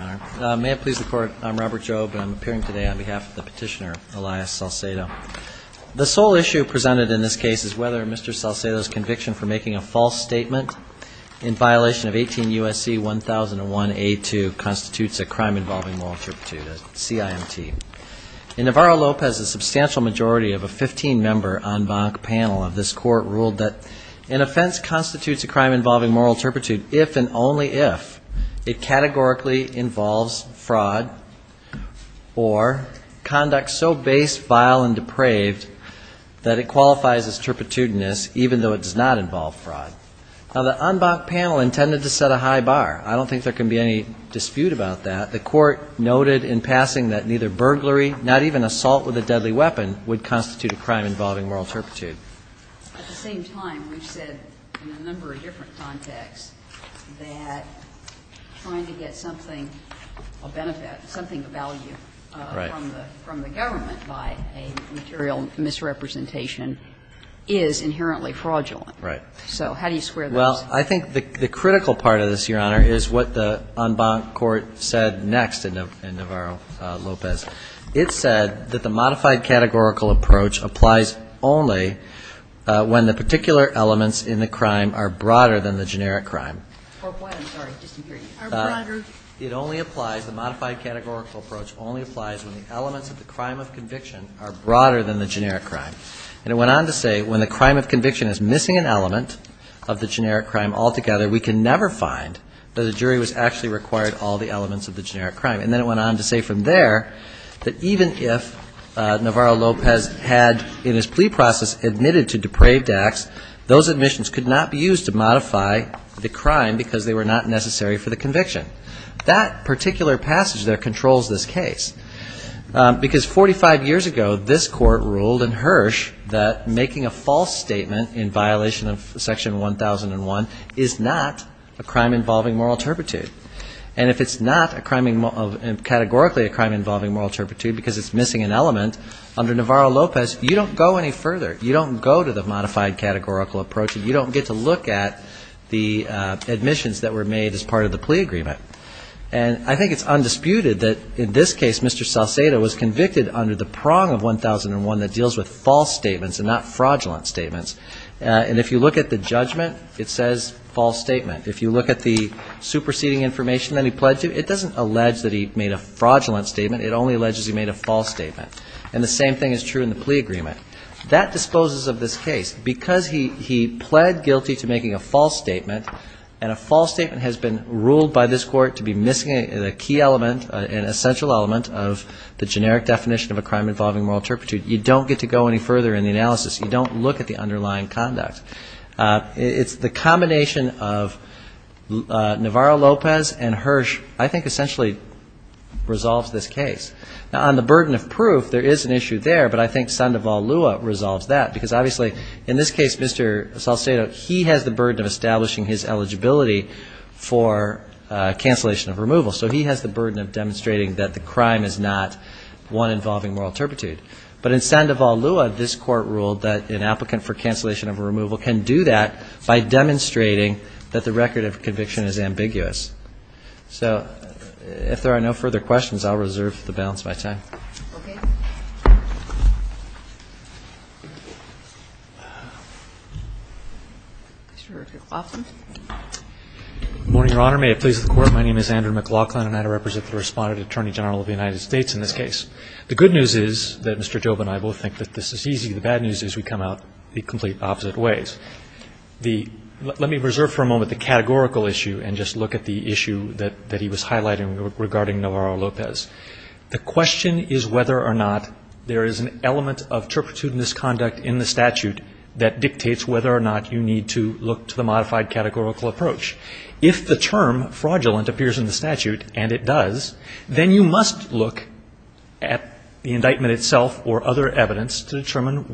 May it please the Court, I'm Robert Jobe and I'm appearing today on behalf of the petitioner Elias Salcedo. The sole issue presented in this case is whether Mr. Salcedo's conviction for making a false statement in violation of 18 U.S.C. 1001A2 constitutes a crime involving moral turpitude, a CIMT. In Navarro-Lopez, a substantial majority of a 15-member en banc panel of this Court ruled that an offense constitutes a crime involving moral turpitude if and only if it categorically involves fraud or conduct so base, vile, and depraved that it qualifies as turpitudinous even though it does not involve fraud. Now, the en banc panel intended to set a high bar. I don't think there can be any dispute about that. The Court noted in passing that neither burglary, not even assault with a deadly weapon, would constitute a crime involving moral turpitude. At the same time, we've said in a number of different contexts that trying to get something, a benefit, something of value from the government by a material misrepresentation is inherently fraudulent. Right. So how do you square those? Well, I think the critical part of this, Your Honor, is what the en banc Court said next in Navarro-Lopez. It said that the modified categorical approach applies only when the particular elements in the crime are broader than the generic crime. I'm sorry. Just a period. Are broader. It only applies, the modified categorical approach only applies when the elements of the crime of conviction are broader than the generic crime. And it went on to say when the crime of conviction is missing an element of the generic crime altogether, we can never find that a jury was actually required all the elements of the generic crime. And then it went on to say from there that even if Navarro-Lopez had in his plea process admitted to depraved acts, those admissions could not be used to modify the crime because they were not necessary for the conviction. That particular passage there controls this case. Because 45 years ago, this Court ruled in Hirsch that making a false statement in violation of Section 1001 is not a crime involving moral turpitude. And if it's not categorically a crime involving moral turpitude because it's missing an element, under Navarro-Lopez, you don't go any further. You don't go to the modified categorical approach and you don't get to look at the admissions that were made as part of the plea agreement. And I think it's undisputed that in this case, Mr. Salcedo was convicted under the prong of 1001 that deals with false statements and not fraudulent statements. And if you look at the judgment, it says false statement. If you look at the superseding information that he pledged to, it doesn't allege that he made a fraudulent statement. It only alleges he made a false statement. And the same thing is true in the plea agreement. That disposes of this case. Because he pled guilty to making a false statement, and a false statement has been ruled by this Court to be missing a key element, an essential element of the generic definition of a crime involving moral turpitude, you don't get to go any further in the analysis. You don't look at the underlying conduct. It's the combination of Navarro-Lopez and Hirsch, I think, essentially resolves this case. Now, on the burden of proof, there is an issue there, but I think Sandoval-Lua resolves that. Because, obviously, in this case, Mr. Salcedo, he has the burden of establishing his eligibility for cancellation of removal. So he has the burden of demonstrating that the crime is not one involving moral turpitude. But in Sandoval-Lua, this Court ruled that an applicant for cancellation of removal can do that by demonstrating that the record of conviction is ambiguous. So, if there are no further questions, I'll reserve the balance by time. Okay. Mr. McLaughlin. Good morning, Your Honor. May it please the Court, my name is Andrew McLaughlin, and I represent the Respondent Attorney General of the United States in this case. The good news is that Mr. Joba and I both think that this is easy. The bad news is we come out the complete opposite ways. Let me reserve for a moment the categorical issue and just look at the issue that he was highlighting regarding Navarro-Lopez. The question is whether or not there is an element of turpitude in this conduct in the statute that dictates whether or not you need to look to the modified categorical approach. If the term fraudulent appears in the statute, and it does, then you must look at the indictment itself or other evidence to determine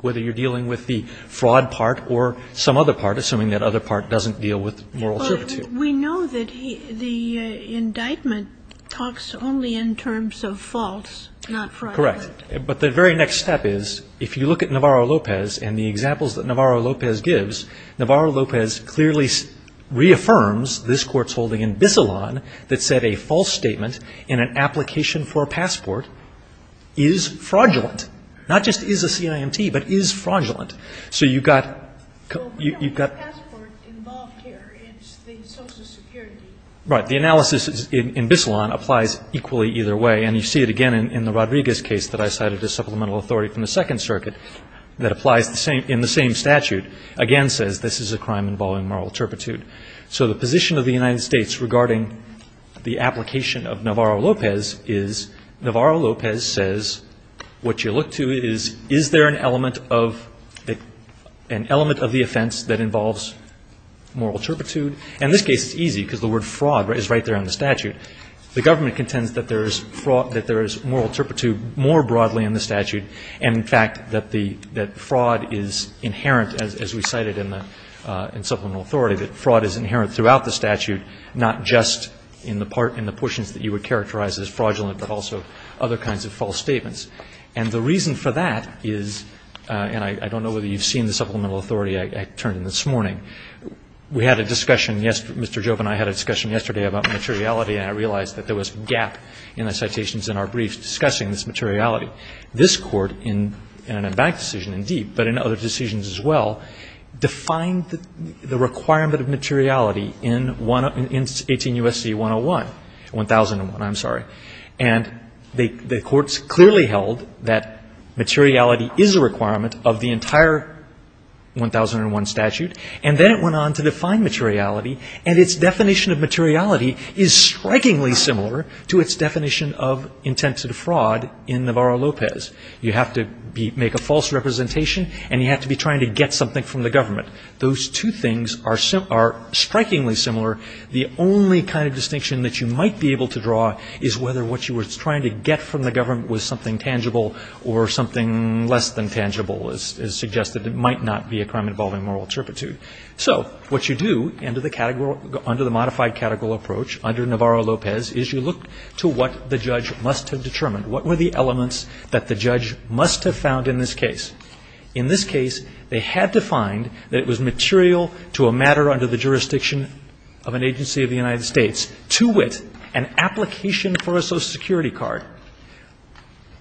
whether you're dealing with the fraud part or some other part, assuming that other part doesn't deal with moral turpitude. But we know that the indictment talks only in terms of false, not fraud. Correct. But the very next step is, if you look at Navarro-Lopez and the examples that Navarro-Lopez gives, Navarro-Lopez clearly reaffirms this Court's holding in Bissalon that said a false statement in an application for a passport is fraudulent, not just is a CIMT, but is fraudulent. So you've got the analysis in Bissalon applies equally either way. And you see it again in the Rodriguez case that I cited as supplemental authority from the Second Circuit that applies in the same statute, again says this is a crime involving moral turpitude. So the position of the United States regarding the application of Navarro-Lopez is Navarro-Lopez says what you look to is, is there an element of the offense that involves moral turpitude? And in this case it's easy because the word fraud is right there in the statute. The government contends that there is moral turpitude more broadly in the statute and, in fact, that fraud is inherent, as we cited in the supplemental authority, that fraud is inherent throughout the statute, not just in the portions that you would characterize as fraudulent, but also other kinds of false statements. And the reason for that is, and I don't know whether you've seen the supplemental authority I turned in this morning. We had a discussion, Mr. Jobe and I had a discussion yesterday about materiality and I realized that there was a gap in the citations in our briefs discussing this materiality. This Court, in an advanced decision indeed, but in other decisions as well, defined the requirement of materiality in 18 U.S.C. 101, 1001, I'm sorry. And the courts clearly held that materiality is a requirement of the entire 1001 statute and then it went on to define materiality and its definition of materiality is strikingly similar to its definition of intent to defraud in Navarro-Lopez. You have to make a false representation and you have to be trying to get something from the government. Those two things are strikingly similar. The only kind of distinction that you might be able to draw is whether what you were trying to get from the government was something tangible or something less than tangible as suggested. It might not be a crime involving moral turpitude. So what you do under the category, under the modified category approach under Navarro-Lopez is you look to what the judge must have determined. What were the elements that the judge must have found in this case? In this case, they had to find that it was material to a matter under the jurisdiction of an agency of the United States to wit an application for a Social Security card.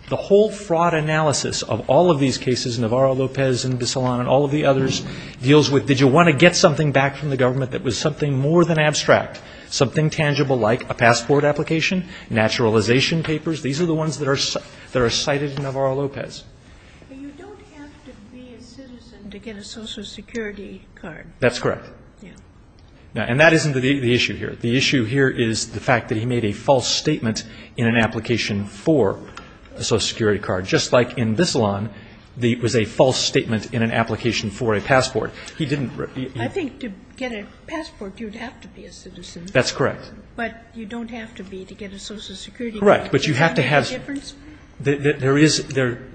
The whole fraud analysis of all of these cases, Navarro-Lopez and Bissalon and all of the others, deals with did you want to get something back from the government that was something more than abstract, something tangible like a passport application, naturalization papers. These are the ones that are cited in Navarro-Lopez. But you don't have to be a citizen to get a Social Security card. That's correct. Yeah. And that isn't the issue here. The issue here is the fact that he made a false statement in an application for a Social Security card, just like in Bissalon there was a false statement in an application for a passport. He didn't. I think to get a passport, you'd have to be a citizen. That's correct. But you don't have to be to get a Social Security card. Correct. But you have to have. Does that make a difference? There is.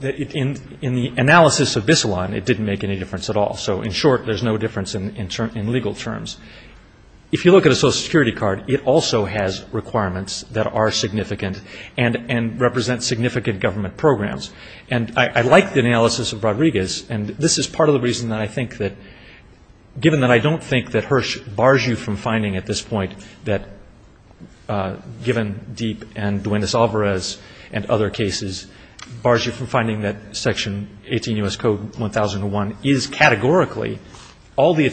In the analysis of Bissalon, it didn't make any difference at all. So in short, there's no difference in legal terms. If you look at a Social Security card, it also has requirements that are significant and represent significant government programs. And I like the analysis of Rodriguez, and this is part of the reason that I think that, given that I don't think that Hirsch bars you from finding at this point that, given Deep and Duendis Alvarez and other cases, bars you from finding that Section 18 U.S. Code 1001 is categorically all the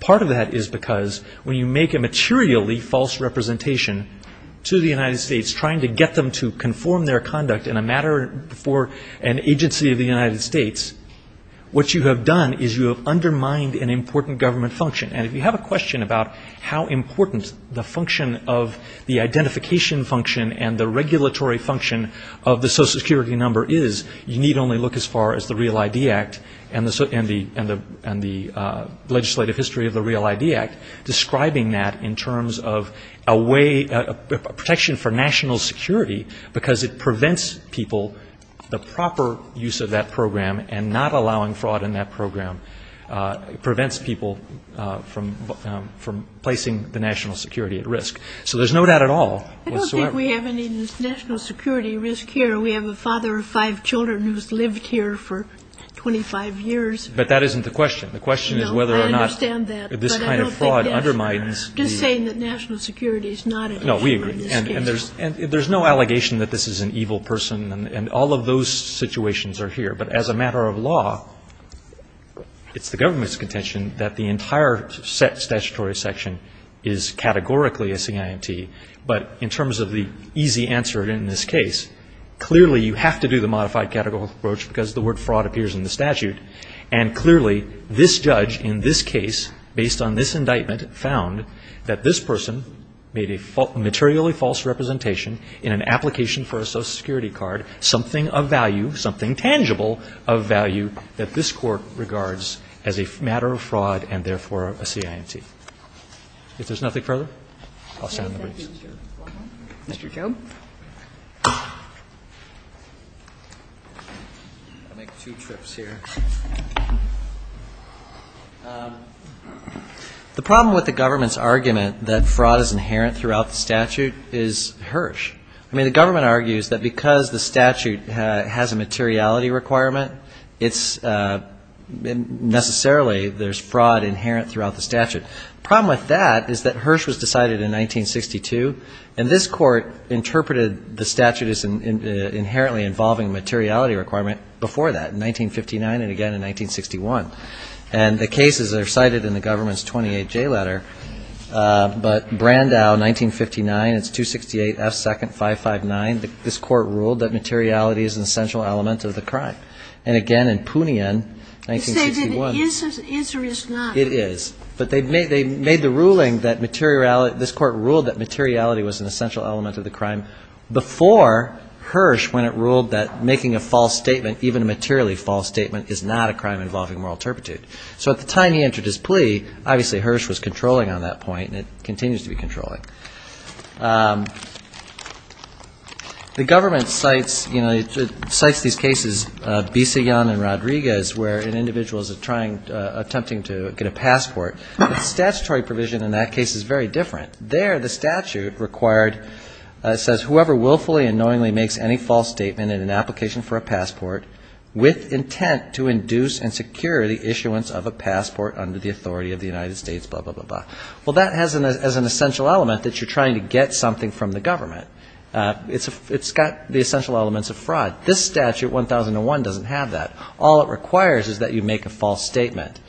Part of that is because when you make a materially false representation to the United States, trying to get them to conform their conduct in a matter for an agency of the United States, what you have done is you have undermined an important government function. And if you have a question about how important the function of the identification function and the regulatory function of the Social Security number is, you need only look as far as the Real ID Act and the legislative history of the Real ID Act, describing that in terms of a way, a protection for national security, because it prevents people, the proper use of that program and not allowing fraud in that program, prevents people from placing the national security at risk. So there's no doubt at all. I don't think we have any national security risk here. We have a father of five children who's lived here for 25 years. But that isn't the question. The question is whether or not this kind of fraud undermines the. I'm just saying that national security is not an issue in this case. And there's no allegation that this is an evil person. And all of those situations are here. But as a matter of law, it's the government's contention that the entire statutory section is categorically a CIMT. But in terms of the easy answer in this case, clearly you have to do the modified categorical approach because the word fraud appears in the statute. And clearly this judge in this case, based on this indictment, found that this person made a materially false representation in an application for a Social Security card, something of value, something tangible of value, that this Court regards as a matter of fraud and therefore a CIMT. If there's nothing further, I'll sign the brief. Thank you. Mr. Job? I'll make two trips here. The problem with the government's argument that fraud is inherent throughout the statute is Hirsch. I mean, the government argues that because the statute has a materiality requirement, it's necessarily there's fraud inherent throughout the statute. The problem with that is that Hirsch was decided in 1962, and this Court interpreted the statute as inherently involving a materiality requirement before that, in 1959 and again in 1961. And the cases are cited in the government's 28J letter. But Brandau, 1959, it's 268F second 559. This Court ruled that materiality is an essential element of the crime. And again, in Poonian, 1961. You say that it is or is not. It is. But they made the ruling that materiality, this Court ruled that materiality was an essential element of the crime before Hirsch when it ruled that making a false statement, even a materially false statement, is not a crime involving moral turpitude. So at the time he entered his plea, obviously Hirsch was controlling on that point and it continues to be controlling. The government cites these cases, Bissigan and Rodriguez, where an individual is attempting to get a passport. Statutory provision in that case is very different. There the statute says, whoever willfully and knowingly makes any false statement in an application for a passport with intent to induce and secure the issuance of a passport under the authority of the United States, blah, blah, blah, blah. Well, that has an essential element that you're trying to get something from the government. It's got the essential elements of fraud. This statute, 1001, doesn't have that. All it requires is that you make a false statement.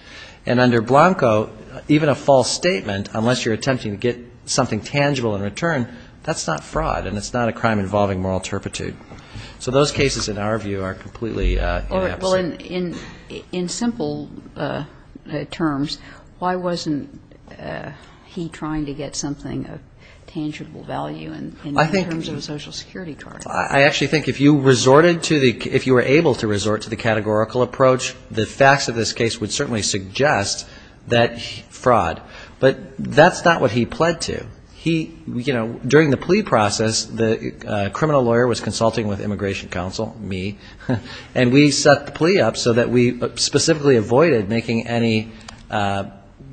And under Blanco, even a false statement, unless you're attempting to get something tangible in return, that's not fraud and it's not a crime involving moral turpitude. So those cases, in our view, are completely inept. Well, in simple terms, why wasn't he trying to get something of tangible value in terms of a Social Security charge? I actually think if you were able to resort to the categorical approach, the facts of this case would certainly suggest that fraud. But that's not what he pled to. During the plea process, the criminal lawyer was consulting with immigration counsel, me, and we set the plea up so that we specifically avoided making any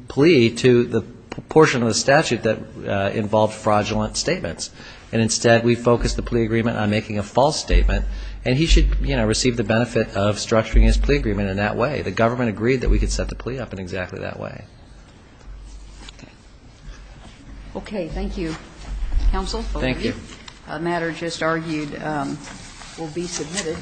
plea to the portion of the statute that involved fraudulent statements. And instead, we focused the plea agreement on making a false statement. And he should receive the benefit of structuring his plea agreement in that way. The government agreed that we could set the plea up in exactly that way. Okay, thank you, counsel. Thank you. A matter just argued will be submitted.